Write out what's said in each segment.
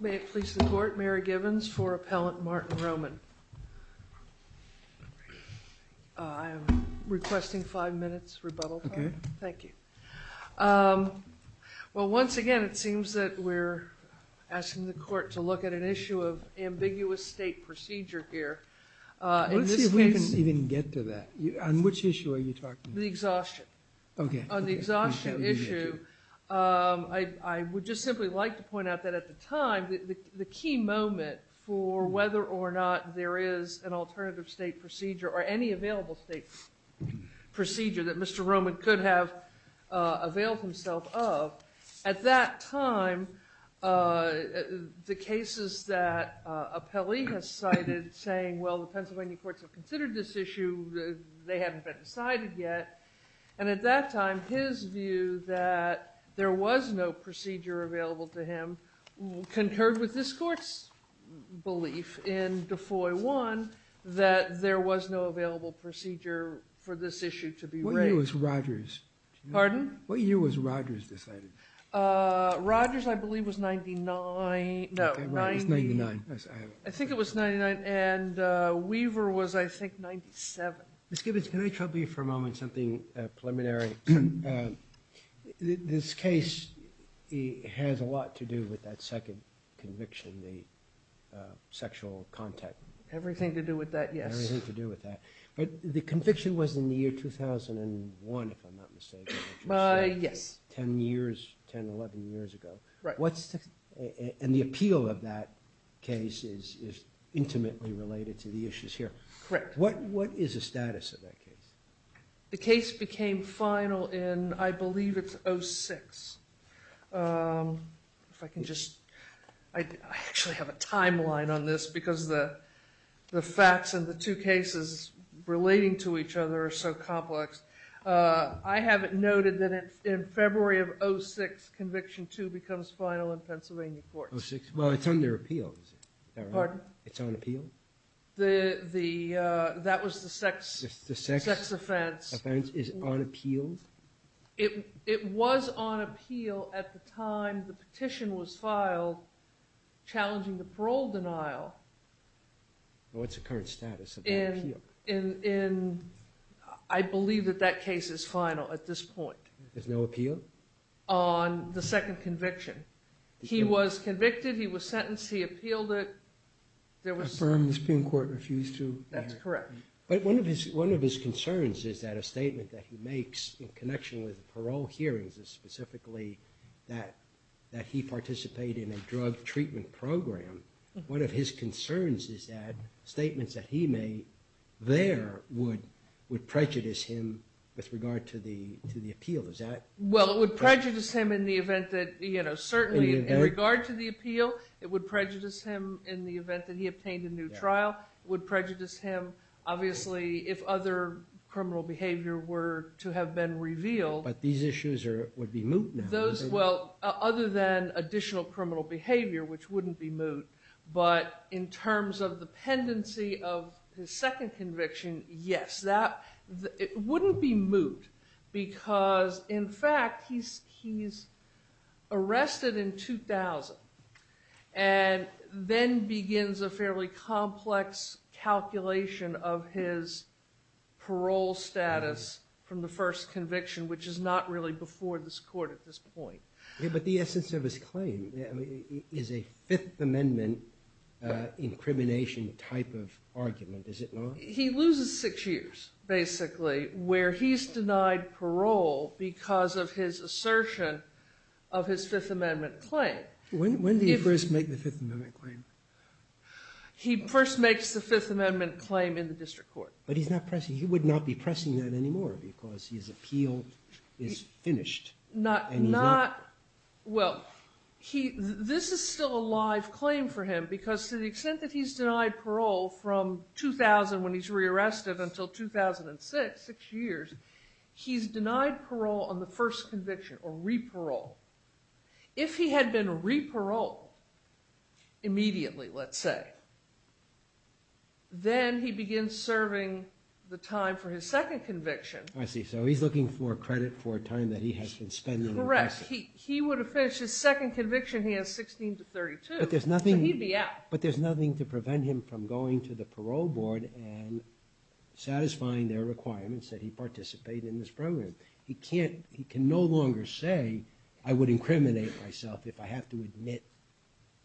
May it please the court, Mary Givens for Appellant Martin Roman. I'm requesting five minutes rebuttal time. Thank you. Well once again it seems that we're asking the court to look at an issue of ambiguous state procedure here. Let's see if we can even get to that. On which issue are you talking about? The exhaustion. Okay. On the exhaustion issue I would just simply like to point out that at the time the key moment for whether or not there is an alternative state procedure or any available state procedure that Mr. Roman could have availed himself of, at that time the cases that Appellee has cited saying well the Pennsylvania courts have considered this issue, they haven't been decided yet, and at that time his view that there was no procedure available to him concurred with this court's belief in Defoy 1 that there was no available procedure for this issue to be raised. What year was Rogers? Pardon? What year was Rogers decided? Rogers I believe was 99. I think it was 99 and Weaver was I think 97. Ms. Givens can I trouble you for a moment something preliminary. This case has a lot to do with that second conviction, the sexual contact. Everything to do with that, yes. Everything to do with that. But the conviction was in the year 2001 if I'm not mistaken. Yes. 10 years, 10-11 years ago. Right. And the appeal of that case is intimately related to the issues here. Correct. What is the status of that case? The case became final in I believe it's 06. If I can just, I actually have a timeline on this because the facts and the two cases relating to each other are so complex. I have it noted that in February of 06, conviction 2 becomes final in Pennsylvania courts. 06, well it's under appeal. Pardon? It's on appeal? That was the sex offense. The sex offense is on appeal? It was on appeal at the time the petition was filed challenging the parole denial. What's the current status of that appeal? I believe that that case is final at this point. There's no appeal? On the second conviction. He was convicted, he was sentenced, he appealed it. Affirm the Supreme Court refused to? That's correct. But one of his concerns is that a statement that he makes in connection with the parole hearings is specifically that he participated in a drug treatment program. One of his concerns is that statements that he made there would prejudice him with regard to the appeal. Well it would prejudice him in the event that certainly in regard to the appeal it would prejudice him in the event that he obtained a new trial. It would prejudice him obviously if other criminal behavior were to have been revealed. But these issues would be moot now. Well other than additional criminal behavior, which wouldn't be moot, but in terms of the pendency of his second conviction, yes. It wouldn't be moot because in fact he's arrested in 2000 and then begins a fairly complex calculation of his parole status from the first conviction, which is not really before this court at this point. But the essence of his claim is a Fifth Amendment incrimination type of argument, is it not? He loses six years basically where he's denied parole because of his assertion of his Fifth Amendment claim. When did he first make the Fifth Amendment claim? He first makes the Fifth Amendment claim in the district court. But he's not pressing, he would not be pressing that anymore because his appeal is finished. Well this is still a live claim for him because to the extent that he's denied parole from 2000 when he's re-arrested until 2006, six years, he's denied parole on the first conviction or re-parole. If he had been re-paroled immediately, let's say, then he begins serving the time for his second conviction. I see. So he's looking for credit for time that he has been spending in prison. Correct. He would have finished his second conviction, he has 16 to 32, so he'd be out. But there's nothing to prevent him from going to the parole board and satisfying their requirements that he participate in this program. He can no longer say, I would incriminate myself if I have to admit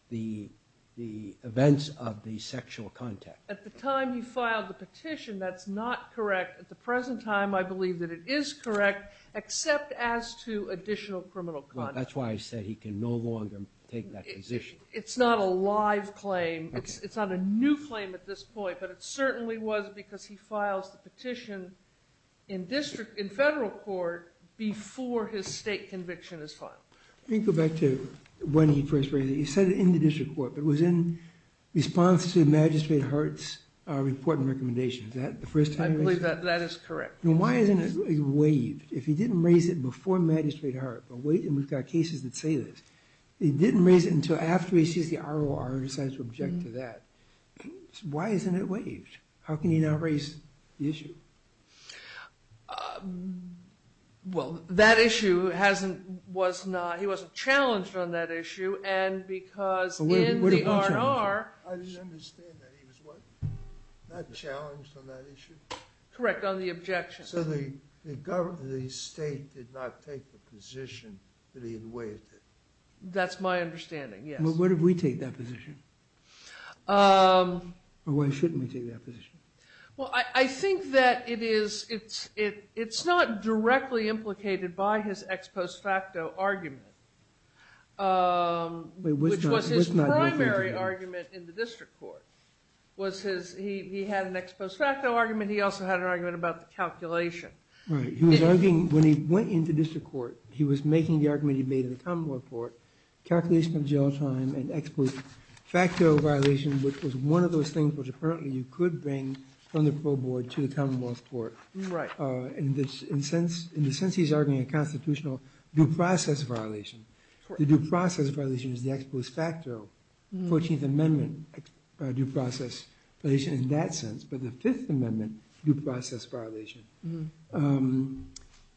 the events of the sexual contact. At the time he filed the petition, that's not correct. At the present time, I believe that it is correct, except as to additional criminal conduct. Well, that's why I said he can no longer take that position. It's not a live claim. It's not a new claim at this point, but it certainly was because he files the petition in federal court before his state conviction is filed. Let me go back to when he first raised it. He said it in the district court, but it was in response to Magistrate Hart's report and recommendation. Is that the first time he raised it? I believe that that is correct. Why isn't it waived? If he didn't raise it before Magistrate Hart, and we've got cases that say this, he didn't raise it until after he sees the ROR and decides to object to that. Why isn't it waived? How can he not raise the issue? Well, that issue, he wasn't challenged on that issue, and because in the ROR... I didn't understand that. He was what? Not challenged on that issue? Correct, on the objection. So the state did not take the position that he had waived it? That's my understanding, yes. Well, what if we take that position? Or why shouldn't we take that position? Well, I think that it's not directly implicated by his ex post facto argument, which was his primary argument in the district court. He had an ex post facto argument. He also had an argument about the calculation. Right. He was arguing, when he went into district court, he was making the argument he made in the Commonwealth Court, calculation of jail time and ex post facto violation, which was one of those things which apparently you could bring from the Crow Board to the Commonwealth Court. In the sense he's arguing a constitutional due process violation, the due process violation is the ex post facto Fourteenth Amendment due process violation in that sense, but the Fifth Amendment due process violation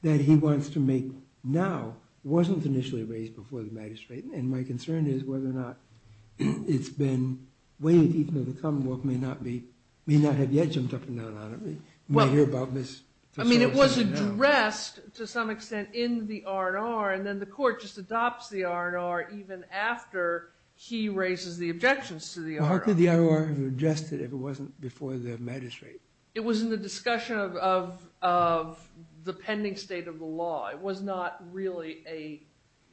that he wants to make now wasn't initially raised before the magistrate. And my concern is whether or not it's been waived even though the Commonwealth may not have yet jumped up and down on it. I mean, it was addressed to some extent in the R&R, and then the court just adopts the R&R even after he raises the objections to the R&R. How could the R&R have addressed it if it wasn't before the magistrate? It was in the discussion of the pending state of the law. It was not really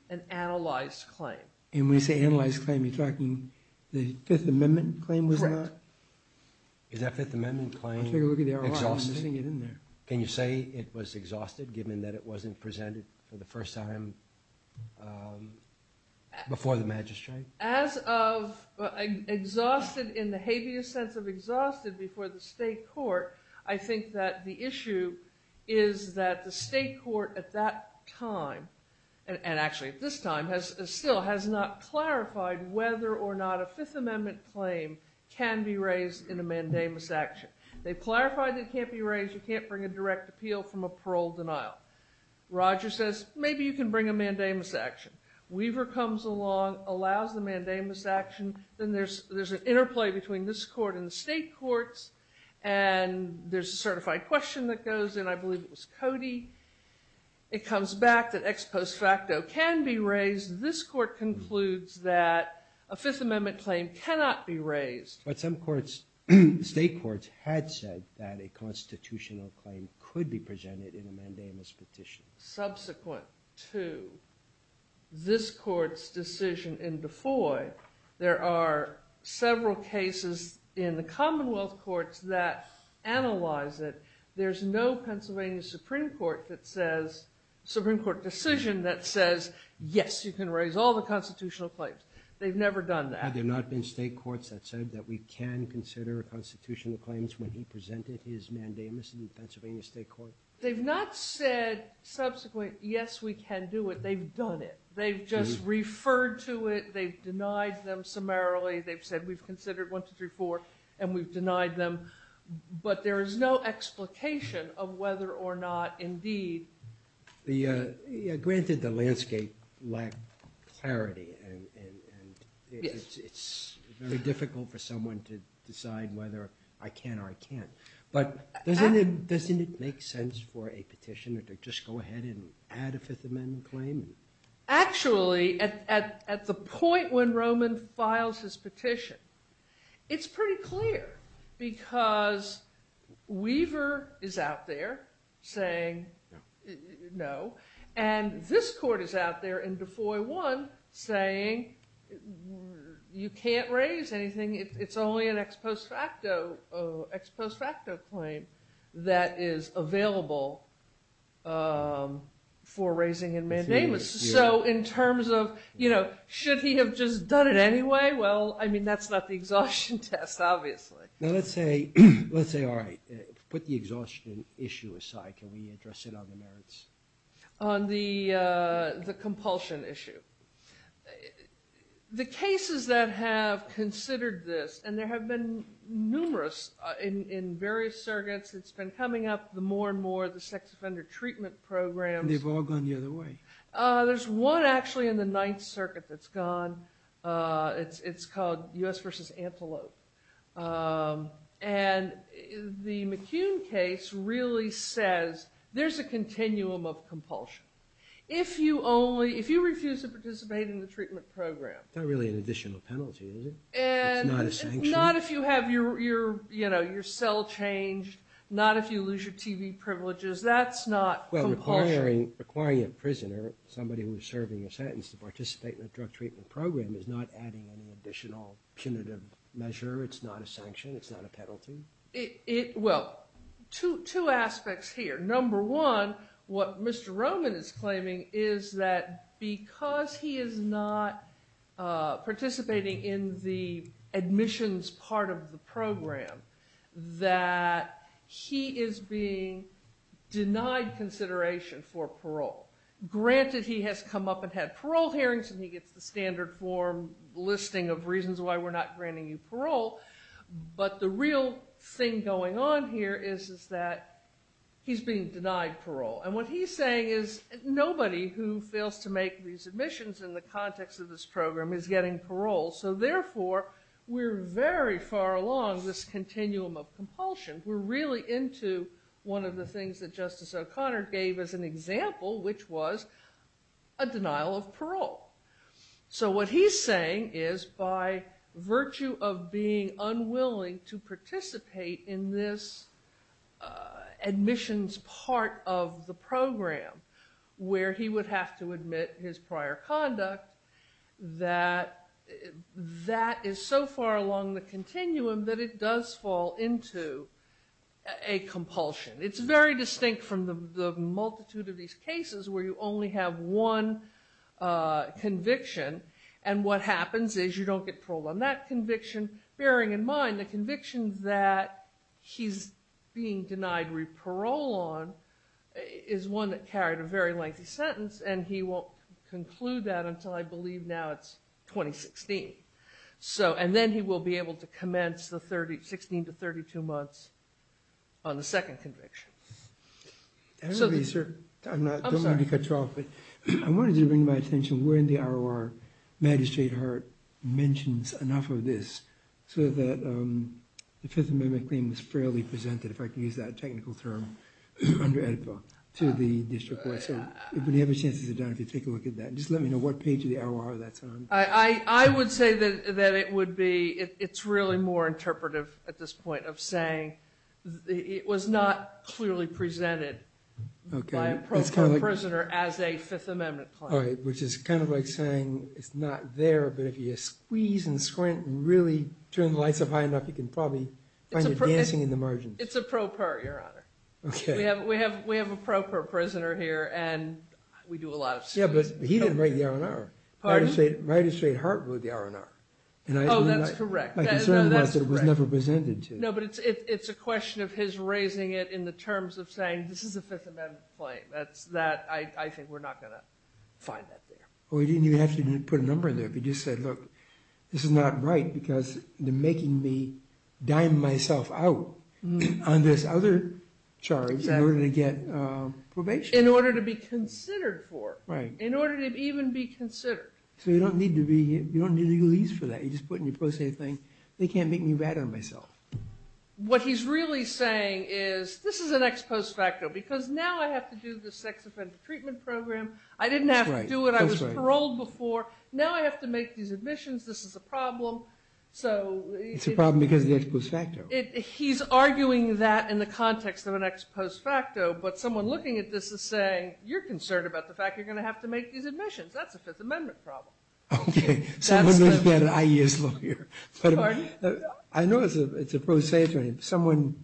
an analyzed claim. And when you say analyzed claim, you're talking the Fifth Amendment claim was not? Correct. Is that Fifth Amendment claim exhausted? I'll take a look at the R&R. I'm putting it in there. Can you say it was exhausted given that it wasn't presented for the first time before the magistrate? As of exhausted in the habeas sense of exhausted before the state court, I think that the issue is that the state court at that time, and actually at this time, still has not clarified whether or not a Fifth Amendment claim can be raised in a mandamus action. They clarified it can't be raised. You can't bring a direct appeal from a parole denial. Roger says, maybe you can bring a mandamus action. Weaver comes along, allows the mandamus action. Then there's an interplay between this court and the state courts. And there's a certified question that goes, and I believe it was Cody. It comes back that ex post facto can be raised. But some courts, state courts, had said that a constitutional claim could be presented in a mandamus petition. Subsequent to this court's decision in DeFoy, there are several cases in the Commonwealth courts that analyze it. There's no Pennsylvania Supreme Court decision that says, yes, you can raise all the constitutional claims. They've never done that. Had there not been state courts that said that we can consider constitutional claims when he presented his mandamus in the Pennsylvania state court? They've not said subsequently, yes, we can do it. They've done it. They've just referred to it. They've denied them summarily. They've said, we've considered 1, 2, 3, 4. And we've denied them. But there is no explication of whether or not, indeed. Granted, the landscape lacked clarity. And it's very difficult for someone to decide whether I can or I can't. But doesn't it make sense for a petitioner to just go ahead and add a Fifth Amendment claim? Actually, at the point when Roman files his petition, it's pretty clear. Because Weaver is out there saying, no. And this court is out there in DeFoy 1 saying, you can't raise anything. It's only an ex post facto claim that is available for raising in mandamus. So in terms of, should he have just done it anyway? Well, I mean, that's not the exhaustion test, obviously. Now, let's say, all right, put the exhaustion issue aside. Can we address it on the merits? On the compulsion issue. The cases that have considered this, and there have been numerous in various circuits. It's been coming up more and more, the sex offender treatment programs. They've all gone the other way. There's one, actually, in the Ninth Circuit that's gone. It's called U.S. v. Antelope. And the McCune case really says, there's a continuum of compulsion. If you refuse to participate in the treatment program. It's not really an additional penalty, is it? It's not a sanction? Not if you have your cell changed. Not if you lose your TV privileges. That's not compulsion. Well, requiring a prisoner, somebody who is serving a sentence, to participate in a drug treatment program is not adding an additional punitive measure. It's not a sanction. It's not a penalty. Well, two aspects here. Number one, what Mr. Roman is claiming, is that because he is not participating in the admissions part of the program, that he is being denied consideration for parole. Granted, he has come up and had parole hearings, and he gets the standard form listing of reasons why we're not granting you parole. But the real thing going on here is that he's being denied parole. And what he's saying is, nobody who fails to make these admissions in the context of this program is getting parole. So therefore, we're very far along this continuum of compulsion. We're really into one of the things that Justice O'Connor gave as an example, which was a denial of parole. So what he's saying is, by virtue of being unwilling to participate in this admissions part of the program, where he would have to admit his prior conduct, that that is so far along the continuum that it does fall into a compulsion. It's very distinct from the multitude of these cases where you only have one conviction, and what happens is you don't get parole on that conviction, bearing in mind the conviction that he's being denied parole on is one that carried a very lengthy sentence, and he won't conclude that until I believe now it's 2016. And then he will be able to commence the 16 to 32 months on the second conviction. I don't want to cut you off, but I wanted to bring to my attention where in the ROR Magistrate Hart mentions enough of this so that the Fifth Amendment claim was fairly presented, if I can use that technical term, under AEDPA to the district court. So if you have a chance to sit down and take a look at that, just let me know what page of the ROR that's on. I would say that it's really more interpretive at this point of saying it was not clearly presented by a pro per prisoner as a Fifth Amendment claim. All right, which is kind of like saying it's not there, but if you squeeze and squint and really turn the lights up high enough, you can probably find it dancing in the margins. It's a pro per, Your Honor. Okay. We have a pro per prisoner here, and we do a lot of squeezing. Yeah, but he didn't write the ROR. Pardon? Magistrate Hart wrote the ROR. Oh, that's correct. My concern was that it was never presented to. No, but it's a question of his raising it in the terms of saying, this is a Fifth Amendment claim. I think we're not going to find that there. Well, he didn't even have to put a number in there. If he just said, look, this is not right because they're making me dime myself out on this other charge in order to get probation. In order to be considered for. Right. In order to even be considered. So you don't need legalese for that. They can't make me bad on myself. What he's really saying is, this is an ex post facto because now I have to do the sex offender treatment program. I didn't have to do it. I was paroled before. Now I have to make these admissions. This is a problem. It's a problem because of the ex post facto. He's arguing that in the context of an ex post facto, but someone looking at this is saying, you're concerned about the fact you're going to have to make these admissions. That's a Fifth Amendment problem. Okay. Someone knows better than I do as a lawyer. Pardon? I know it's a prosaic term. Someone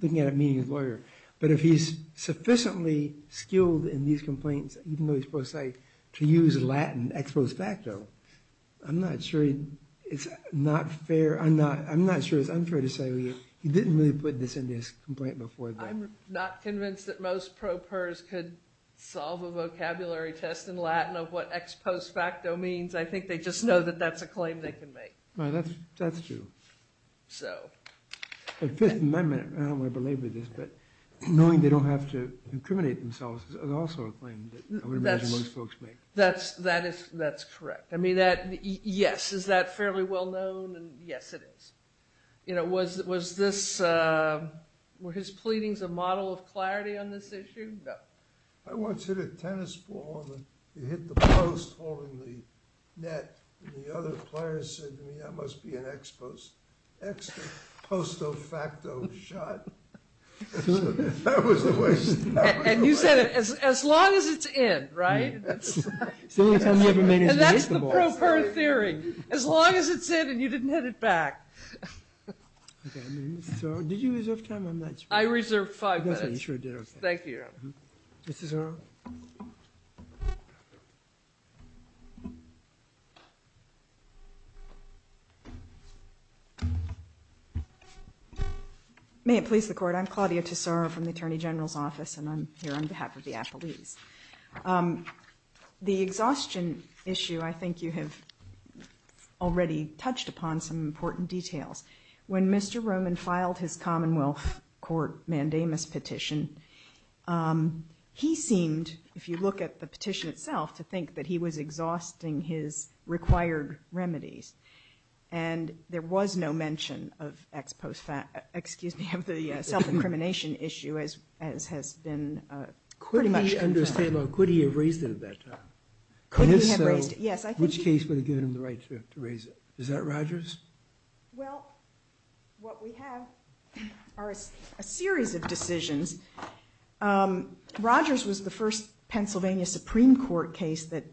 looking at it meaning he's a lawyer. But if he's sufficiently skilled in these complaints, even though he's prosaic, to use Latin ex post facto, I'm not sure it's unfair to say he didn't really put this in his complaint before. I'm not convinced that most pro pers could solve a vocabulary test in Latin of what ex post facto means. I think they just know that that's a claim they can make. That's true. Fifth Amendment, I don't want to belabor this, but knowing they don't have to incriminate themselves is also a claim that I would imagine most folks make. That's correct. Yes, is that fairly well known? Yes, it is. Were his pleadings a model of clarity on this issue? No. I once hit a tennis ball, and it hit the post holding the net, and the other player said to me, that must be an ex post facto shot. That was the way it started. And you said, as long as it's in, right? That's the pro per theory. As long as it's in and you didn't hit it back. Did you reserve time? I reserved five minutes. Thank you. Ms. Tesoro? May it please the Court. I'm Claudia Tesoro from the Attorney General's Office, and I'm here on behalf of the apologies. The exhaustion issue I think you have already touched upon some important details. When Mr. Roman filed his Commonwealth Court mandamus petition, he seemed, if you look at the petition itself, to think that he was exhausting his required remedies. And there was no mention of the self-incrimination issue as has been pretty much confirmed. Could he have raised it at that time? Could he have raised it, yes. Which case would have given him the right to raise it? Is that Rogers? Well, what we have are a series of decisions. Rogers was the first Pennsylvania Supreme Court case that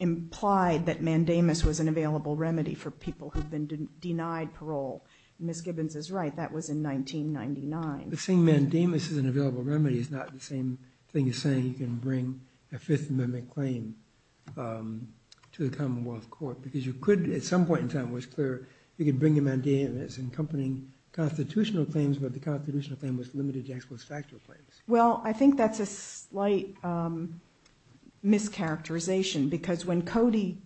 implied that mandamus was an available remedy for people who've been denied parole. Ms. Gibbons is right. That was in 1999. But saying mandamus is an available remedy is not the same thing as saying you can bring a Fifth Amendment claim to the Commonwealth Court. Because you could, at some point in time it was clear, you could bring a mandamus accompanying constitutional claims, but the constitutional claim was limited to ex post facto claims. Well, I think that's a slight mischaracterization because when Cody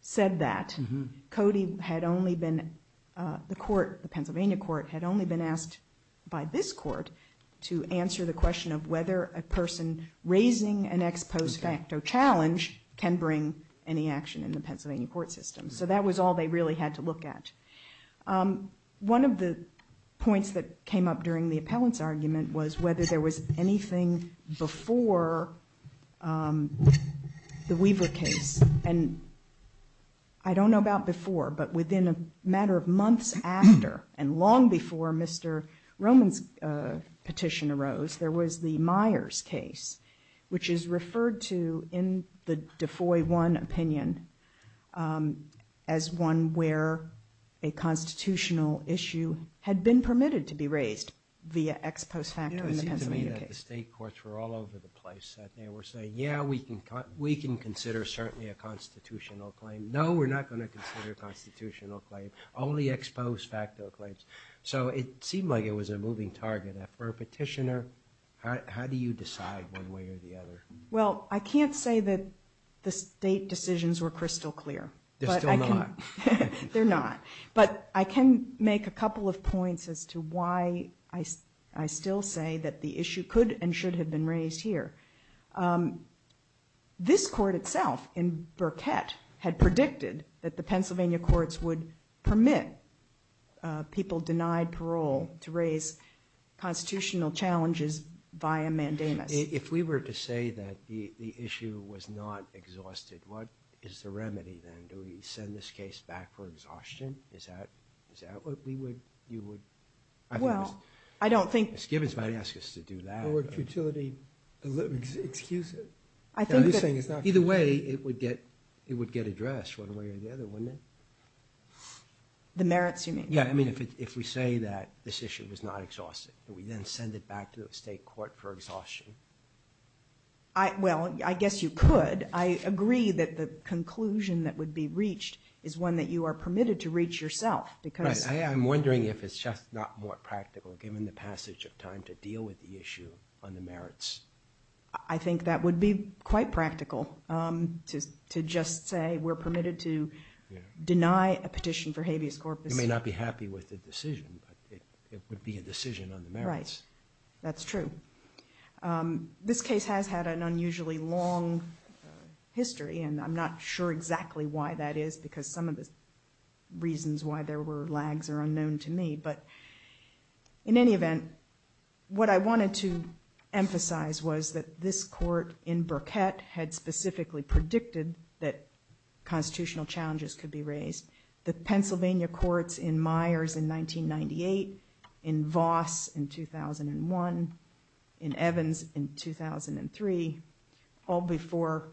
said that, Cody had only been, the court, the Pennsylvania court, had only been asked by this court to answer the question of whether a person raising an ex post facto challenge can bring any action in the Pennsylvania court system. So that was all they really had to look at. One of the points that came up during the appellant's argument was whether there was anything before the Weaver case. And I don't know about before, but within a matter of months after, and long before Mr. Roman's petition arose, there was the Myers case, which is referred to in the Defoy 1 opinion as one where a constitutional issue had been permitted to be raised via ex post facto in the Pennsylvania case. It seemed to me that the state courts were all over the place. They were saying, yeah, we can consider certainly a constitutional claim. No, we're not going to consider a constitutional claim, only ex post facto claims. So it seemed like it was a moving target. For a petitioner, how do you decide one way or the other? Well, I can't say that the state decisions were crystal clear. They're still not. They're not. But I can make a couple of points as to why I still say that the issue could and should have been raised here. This court itself in Burkett had predicted that the Pennsylvania courts would permit people denied parole to raise constitutional challenges via mandamus. If we were to say that the issue was not exhausted, what is the remedy then? Do we send this case back for exhaustion? Is that what you would? Well, I don't think. Ms. Gibbons might ask us to do that. Or would futility excuse it? Either way, it would get addressed one way or the other, wouldn't it? The merits, you mean? Yeah, I mean, if we say that this issue was not exhausted, do we then send it back to the state court for exhaustion? Well, I guess you could. I agree that the conclusion that would be reached is one that you are permitted to reach yourself. I'm wondering if it's just not more practical, given the passage of time, to deal with the issue on the merits. I think that would be quite practical to just say we're permitted to deny a petition for habeas corpus. You may not be happy with the decision, but it would be a decision on the merits. Right, that's true. This case has had an unusually long history, and I'm not sure exactly why that is, because some of the reasons why there were lags are unknown to me. But in any event, what I wanted to emphasize was that this court in Burkett had specifically predicted that constitutional challenges could be raised. The Pennsylvania courts in Myers in 1998, in Voss in 2001, in Evans in 2003, all before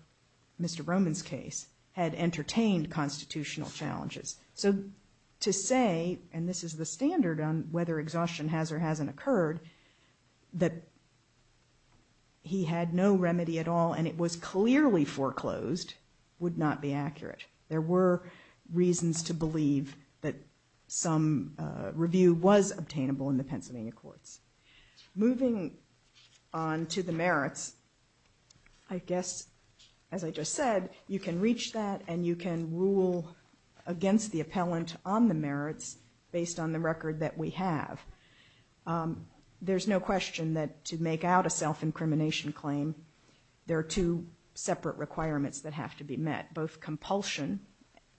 Mr. Roman's case, had entertained constitutional challenges. So to say, and this is the standard on whether exhaustion has or hasn't occurred, that he had no remedy at all and it was clearly foreclosed, would not be accurate. There were reasons to believe that some review was obtainable in the Pennsylvania courts. Moving on to the merits, I guess, as I just said, you can reach that and you can rule against the appellant on the merits based on the record that we have. There's no question that to make out a self-incrimination claim, there are two separate requirements that have to be met, both compulsion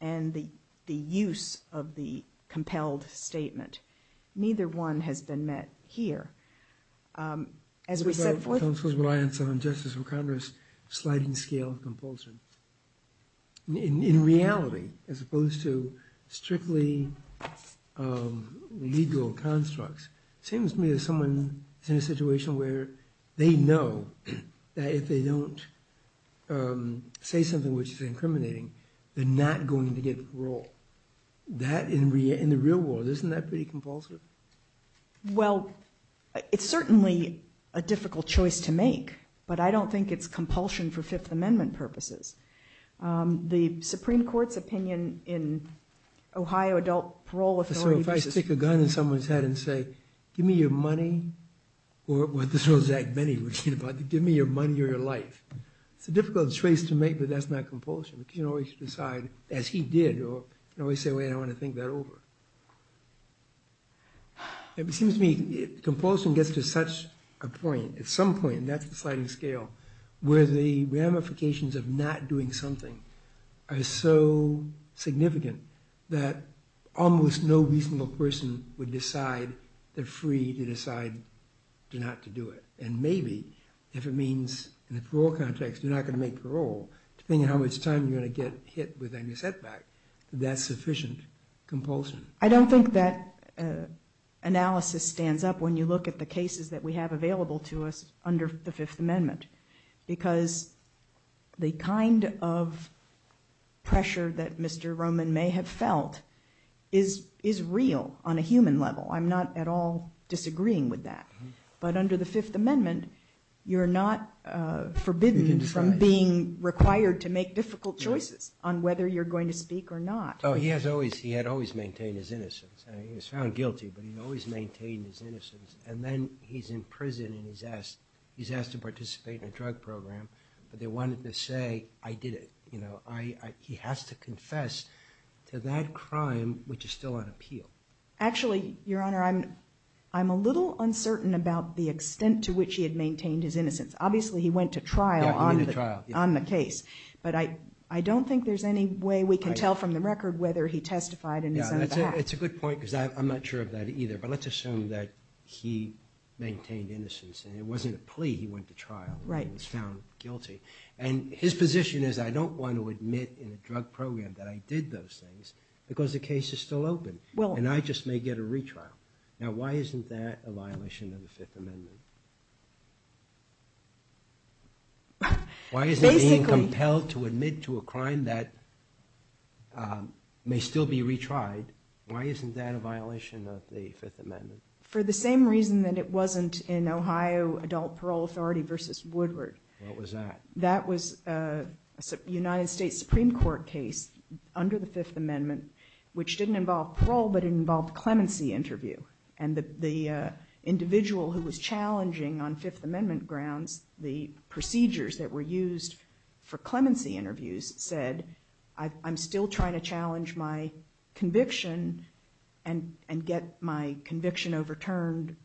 and the use of the compelled statement. Neither one has been met here. As we set forth... Counsel's reliance on Justice McConroy's sliding scale of compulsion. In reality, as opposed to strictly legal constructs, it seems to me that someone is in a situation where they know that if they don't say something which is incriminating, they're not going to get parole. That, in the real world, isn't that pretty compulsive? Well, it's certainly a difficult choice to make, but I don't think it's compulsion for Fifth Amendment purposes. The Supreme Court's opinion in Ohio Adult Parole Authority... So if I stick a gun in someone's head and say, give me your money, or this is what Zach Benny would say, give me your money or your life. It's a difficult choice to make, but that's not compulsion. You can't always decide, as he did, you can't always say, wait, I want to think that over. It seems to me compulsion gets to such a point, at some point, and that's the sliding scale, where the ramifications of not doing something are so significant that almost no reasonable person would decide they're free to decide not to do it. And maybe, if it means, in the parole context, you're not going to make parole, depending on how much time you're going to get hit with any setback, that's sufficient compulsion. I don't think that analysis stands up when you look at the cases that we have available to us under the Fifth Amendment, because the kind of pressure that Mr. Roman may have felt is real on a human level. I'm not at all disagreeing with that. But under the Fifth Amendment, you're not forbidden from being required to make difficult choices on whether you're going to speak or not. He had always maintained his innocence. He was found guilty, but he always maintained his innocence. And then he's in prison and he's asked to participate in a drug program, but they wanted to say, I did it. He has to confess to that crime, which is still on appeal. Actually, Your Honor, I'm a little uncertain about the extent to which he had maintained his innocence. Obviously, he went to trial on the case. But I don't think there's any way we can tell from the record whether he testified in his own defense. It's a good point, because I'm not sure of that either. But let's assume that he maintained innocence and it wasn't a plea, he went to trial and was found guilty. And his position is, I don't want to admit in a drug program that I did those things, because the case is still open. And I just may get a retrial. Now, why isn't that a violation of the Fifth Amendment? Why isn't being compelled to admit to a crime that may still be retried, why isn't that a violation of the Fifth Amendment? For the same reason that it wasn't in Ohio Adult Parole Authority v. Woodward. What was that? That was a United States Supreme Court case under the Fifth Amendment, which didn't involve parole, but it involved a clemency interview. And the individual who was challenging on Fifth Amendment grounds the procedures that were used for clemency interviews said, I'm still trying to challenge my conviction and get my conviction overturned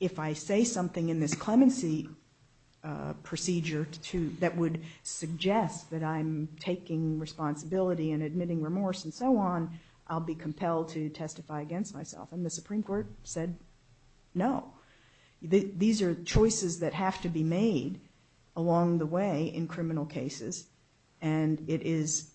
if I say something in this clemency procedure that would suggest that I'm taking responsibility and admitting remorse and so on, I'll be compelled to testify against myself. And the Supreme Court said, no. These are choices that have to be made along the way in criminal cases. And it is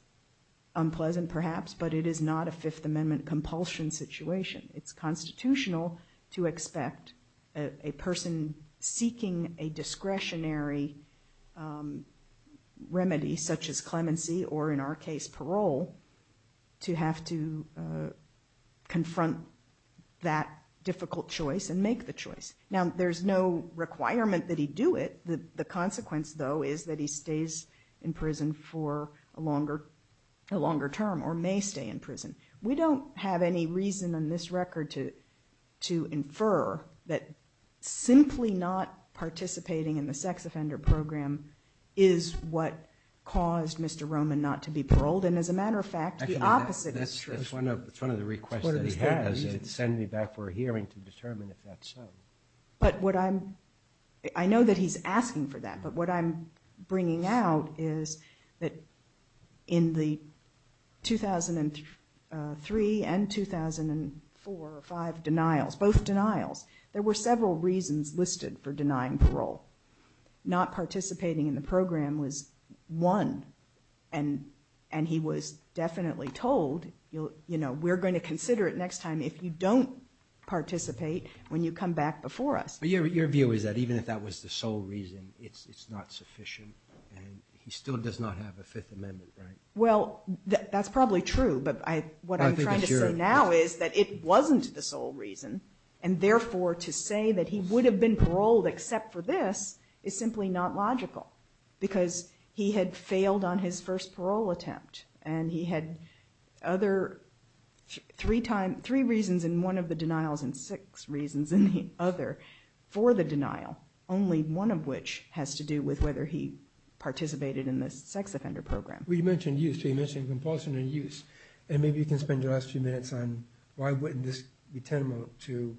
unpleasant, perhaps, but it is not a Fifth Amendment compulsion situation. It's constitutional to expect a person seeking a discretionary remedy, such as clemency or, in our case, parole, to have to confront that difficult choice and make the choice. Now, there's no requirement that he do it. The consequence, though, is that he stays in prison for a longer term or may stay in prison. We don't have any reason in this record to infer that simply not participating in the sex offender program is what caused Mr. Roman not to be paroled. And as a matter of fact, the opposite is true. Actually, that's one of the requests that he has. What is that? It's sending me back for a hearing to determine if that's so. But what I'm... I know that he's asking for that, but what I'm bringing out is that in the 2003 and 2004 or 2005 denials, both denials, there were several reasons listed for denying parole. Not participating in the program was one, and he was definitely told, you know, we're going to consider it next time if you don't participate when you come back before us. But your view is that even if that was the sole reason, it's not sufficient, and he still does not have a Fifth Amendment, right? Well, that's probably true, but what I'm trying to say now is that it wasn't the sole reason, and therefore to say that he would have been paroled except for this is simply not logical because he had failed on his first parole attempt, and he had three reasons in one of the denials and six reasons in the other for the denial, only one of which has to do with whether he participated in the sex offender program. Well, you mentioned use, so you mentioned compulsion and use, and maybe you can spend your last few minutes on why wouldn't this be tantamount to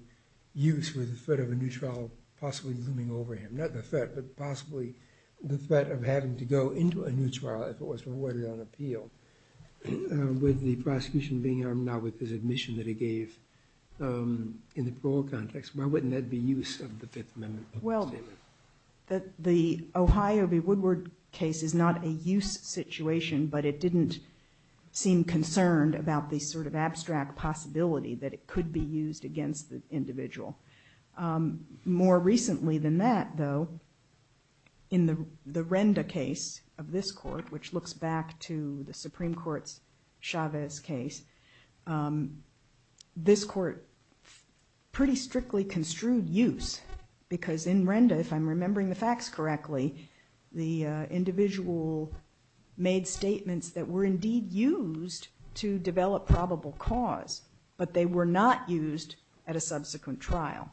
use with the threat of a new trial possibly looming over him, not the threat, but possibly the threat of having to go into a new trial if it was rewarded on appeal with the prosecution being armed now with his admission that he gave in the parole context. Why wouldn't that be use of the Fifth Amendment? Well, the Ohio v. Woodward case is not a use situation, but it didn't seem concerned about the sort of abstract possibility that it could be used against the individual. More recently than that, though, in the Renda case of this court, which looks back to the Supreme Court's Chavez case, this court pretty strictly construed use because in Renda, if I'm remembering the facts correctly, the individual made statements that were indeed used to develop probable cause, but they were not used at a subsequent trial.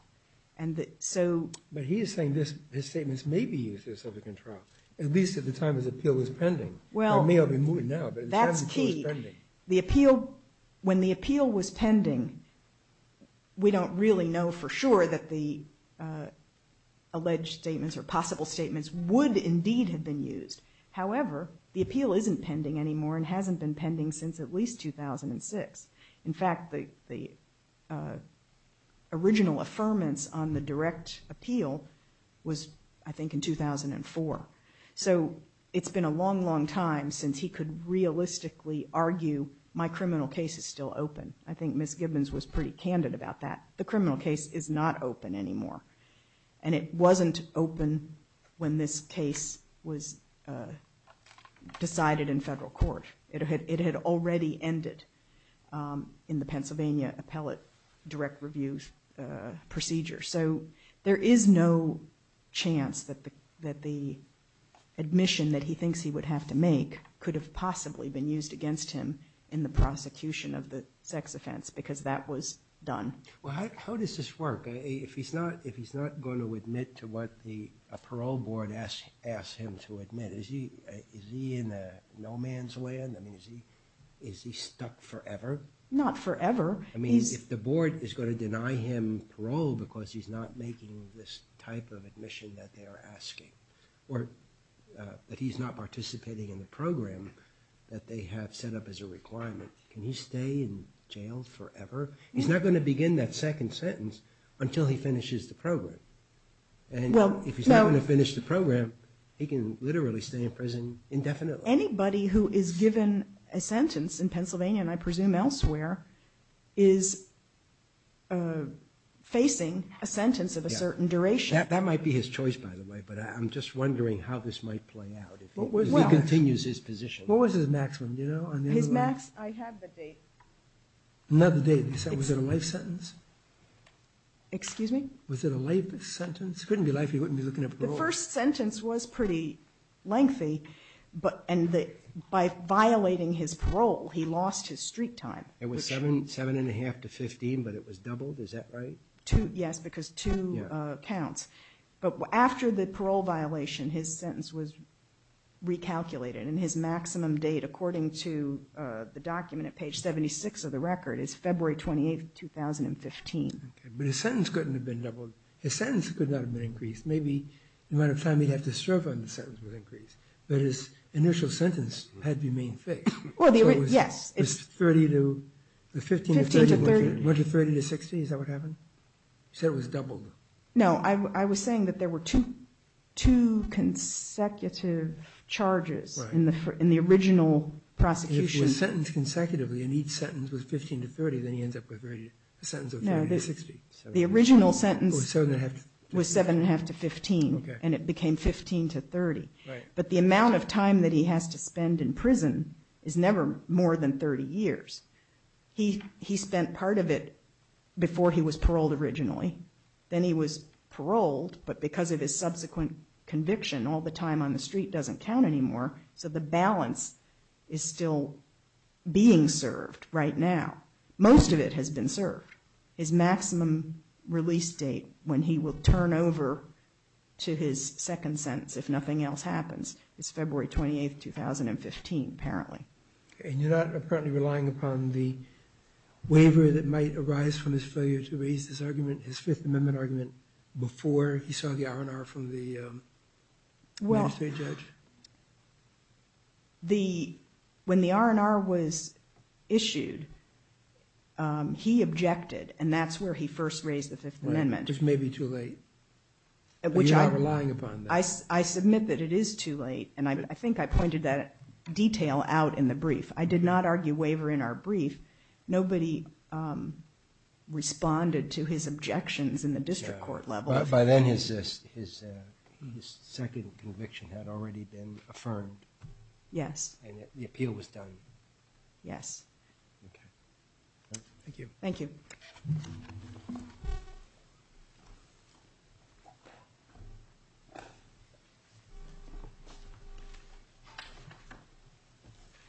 But he is saying his statements may be used at a subsequent trial, at least at the time his appeal was pending. Well, that's key. When the appeal was pending, we don't really know for sure that the alleged statements or possible statements would indeed have been used. However, the appeal isn't pending anymore and hasn't been pending since at least 2006. In fact, the original affirmance on the direct appeal was, I think, in 2004. So it's been a long, long time since he could realistically argue, my criminal case is still open. I think Ms. Gibbons was pretty candid about that. The criminal case is not open anymore. And it wasn't open when this case was decided in federal court. It had already ended in the Pennsylvania appellate direct review procedure. So there is no chance that the admission that he thinks he would have to make could have possibly been used against him in the prosecution of the sex offense because that was done. Well, how does this work? If he's not going to admit to what a parole board asks him to admit, is he in no man's land? Is he stuck forever? Not forever. I mean, if the board is going to deny him parole because he's not making this type of admission that they are asking, or that he's not participating in the program that they have set up as a requirement, can he stay in jail forever? He's not going to begin that second sentence until he finishes the program. And if he's not going to finish the program, he can literally stay in prison indefinitely. Anybody who is given a sentence in Pennsylvania, and I presume elsewhere, is facing a sentence of a certain duration. That might be his choice, by the way, but I'm just wondering how this might play out if he continues his position. What was his maximum, do you know? I have the date. Not the date. Was it a life sentence? Excuse me? Was it a life sentence? It couldn't be life, he wouldn't be looking at parole. The first sentence was pretty lengthy, and by violating his parole, he lost his street time. It was 7 1⁄2 to 15, but it was doubled, is that right? Yes, because two counts. But after the parole violation, his sentence was recalculated, and his maximum date, according to the document at page 76 of the record, is February 28, 2015. But his sentence couldn't have been doubled. His sentence could not have been increased. Maybe the amount of time he'd have to serve on the sentence would increase. But his initial sentence had remained fixed. Yes. It was 30 to, the 15 to 30, 1 to 30 to 60, is that what happened? You said it was doubled. No, I was saying that there were two consecutive charges in the original prosecution. And if it was sentenced consecutively, and each sentence was 15 to 30, then he ends up with a sentence of 30 to 60. No, the original sentence was 7 1⁄2 to 15, and it became 15 to 30. Right. But the amount of time that he has to spend in prison is never more than 30 years. He spent part of it before he was paroled originally, then he was paroled, but because of his subsequent conviction, all the time on the street doesn't count anymore, so the balance is still being served right now. Most of it has been served. His maximum release date, when he will turn over to his second sentence, if nothing else happens, is February 28, 2015, apparently. And you're not apparently relying upon the waiver that might arise from his failure to raise this argument, his Fifth Amendment argument, before he saw the R&R from the interstate judge? When the R&R was issued, he objected, and that's where he first raised the Fifth Amendment. This may be too late. But you're not relying upon that. I submit that it is too late, and I think I pointed that detail out in the brief. I did not argue waiver in our brief. Nobody responded to his objections in the district court level. By then, his second conviction had already been affirmed. Yes. And the appeal was done. Yes. Okay. Thank you. Thank you.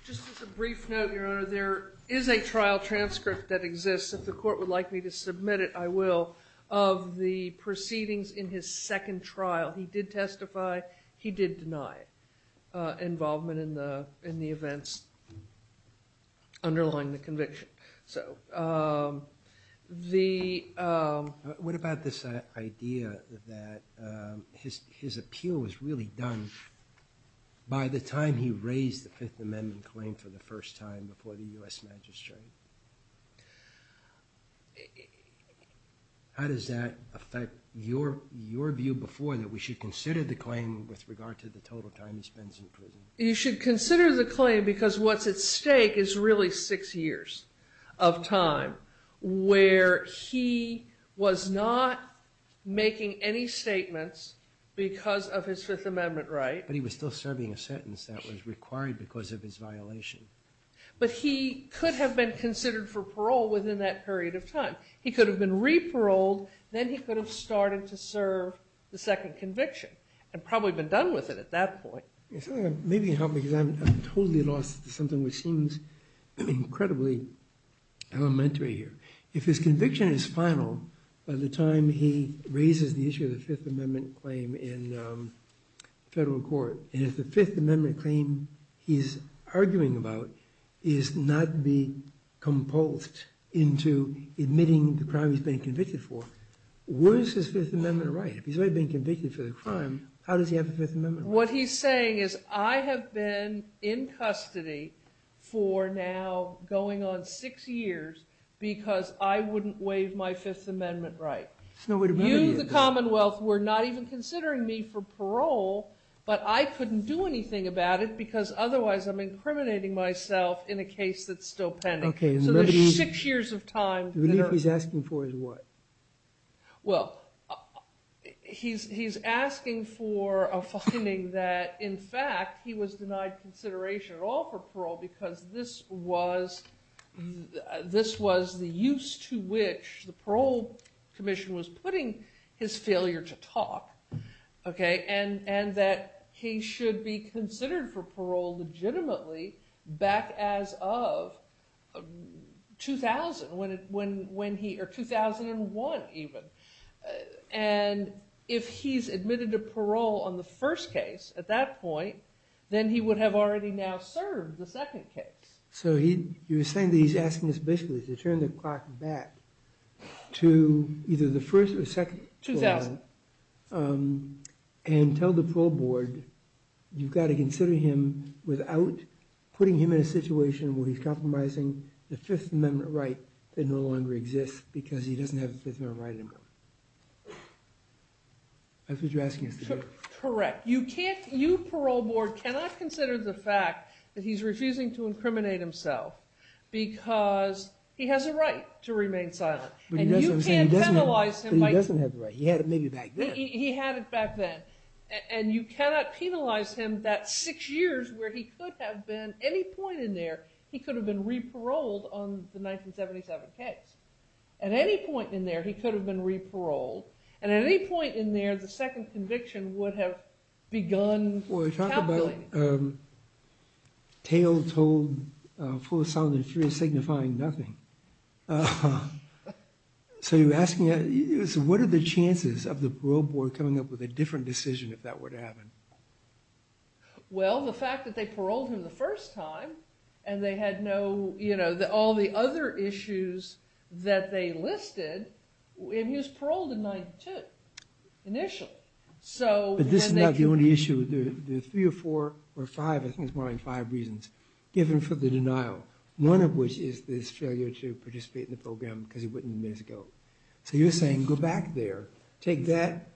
Just as a brief note, Your Honor, there is a trial transcript that exists, if the court would like me to submit it, I will, of the proceedings in his second trial. He did testify. He did deny involvement in the events underlying the conviction. What about this idea that his appeal was really done by the time he raised the Fifth Amendment claim for the first time before the U.S. Magistrate? How does that affect your view before that we should consider the claim with regard to the total time he spends in prison? You should consider the claim because what's at stake is really six years of time where he was not making any statements because of his Fifth Amendment right. But he was still serving a sentence that was required because of his violation. But he could have been considered for parole within that period of time. He could have been re-paroled, then he could have started to serve the second conviction and probably been done with it at that point. Maybe you can help me because I'm totally lost to something which seems incredibly elementary here. If his conviction is final by the time he raises the issue of the Fifth Amendment claim in federal court, and if the Fifth Amendment claim he's arguing about is not being composed into admitting the crime he's been convicted for, where is his Fifth Amendment right? If he's already been convicted for the crime, how does he have the Fifth Amendment right? What he's saying is I have been in custody for now going on six years because I wouldn't waive my Fifth Amendment right. You, the Commonwealth, were not even considering me for parole, but I couldn't do anything about it because otherwise I'm incriminating myself in a case that's still pending. So there's six years of time. The relief he's asking for is what? Well, he's asking for a finding that in fact he was denied consideration at all for parole because this was the use to which the parole commission was putting his failure to talk. And that he should be considered for parole legitimately back as of 2001 even. And if he's admitted to parole on the first case at that point, then he would have already now served the second case. So you're saying that he's asking us basically to turn the clock back to either the first or second trial and tell the parole board you've got to consider him without putting him in a situation where he's compromising the Fifth Amendment right that no longer exists because he doesn't have the Fifth Amendment right anymore. That's what you're asking us to do? Correct. You parole board cannot consider the fact that he's refusing to incriminate himself because he has a right to remain silent. But he doesn't have the right. He had it maybe back then. He had it back then. And you cannot penalize him that six years where he could have been, any point in there, he could have been re-paroled on the 1977 case. At any point in there, he could have been re-paroled. And at any point in there, the second conviction would have begun tabulating. Well, you talk about a tale told full of sound and fear signifying nothing. So what are the chances of the parole board coming up with a different decision if that were to happen? Well, the fact that they paroled him the first time and they had all the other issues that they listed, and he was paroled in 1992, initially. But this is not the only issue. There are three or four, or five, I think it's more like five reasons, given for the denial. One of which is this failure to participate in the program because he wouldn't have been able to go. So you're saying, go back there, take that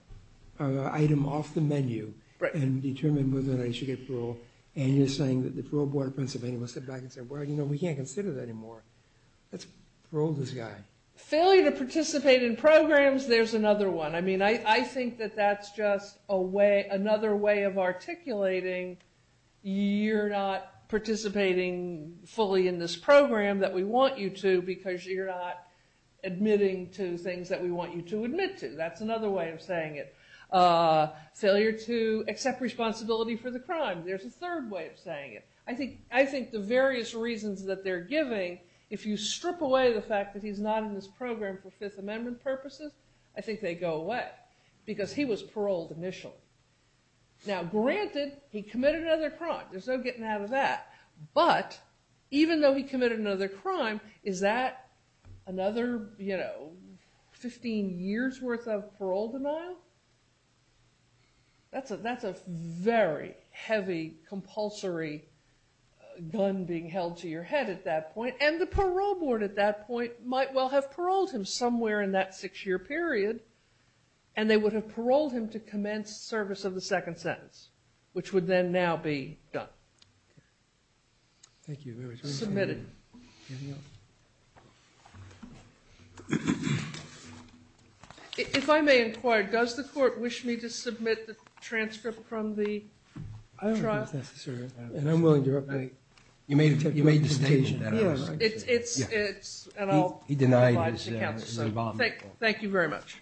item off the menu and determine whether or not he should get parole. And you're saying that the parole board in Pennsylvania will step back and say, well, you know, we can't consider that anymore. Let's parole this guy. Failure to participate in programs, there's another one. I mean, I think that that's just another way of articulating you're not participating fully in this program that we want you to because you're not admitting to things that we want you to admit to. That's another way of saying it. Failure to accept responsibility for the crime, there's a third way of saying it. I think the various reasons that they're giving, if you strip away the fact that he's not in this program for Fifth Amendment purposes, I think they go away because he was paroled initially. Now, granted, he committed another crime. There's no getting out of that. But even though he committed another crime, is that another 15 years' worth of parole denial? That's a very heavy, compulsory gun being held to your head at that point. And the parole board at that point might well have paroled him somewhere in that six-year period, and they would have paroled him to commence service of the second sentence, which would then now be done. Thank you very much. Submitted. Anything else? If I may inquire, does the court wish me to submit the transcript from the trial? I don't think it's necessary. And I'm willing to update. You made the statement. It's, and I'll provide it to counsel. Thank you very much.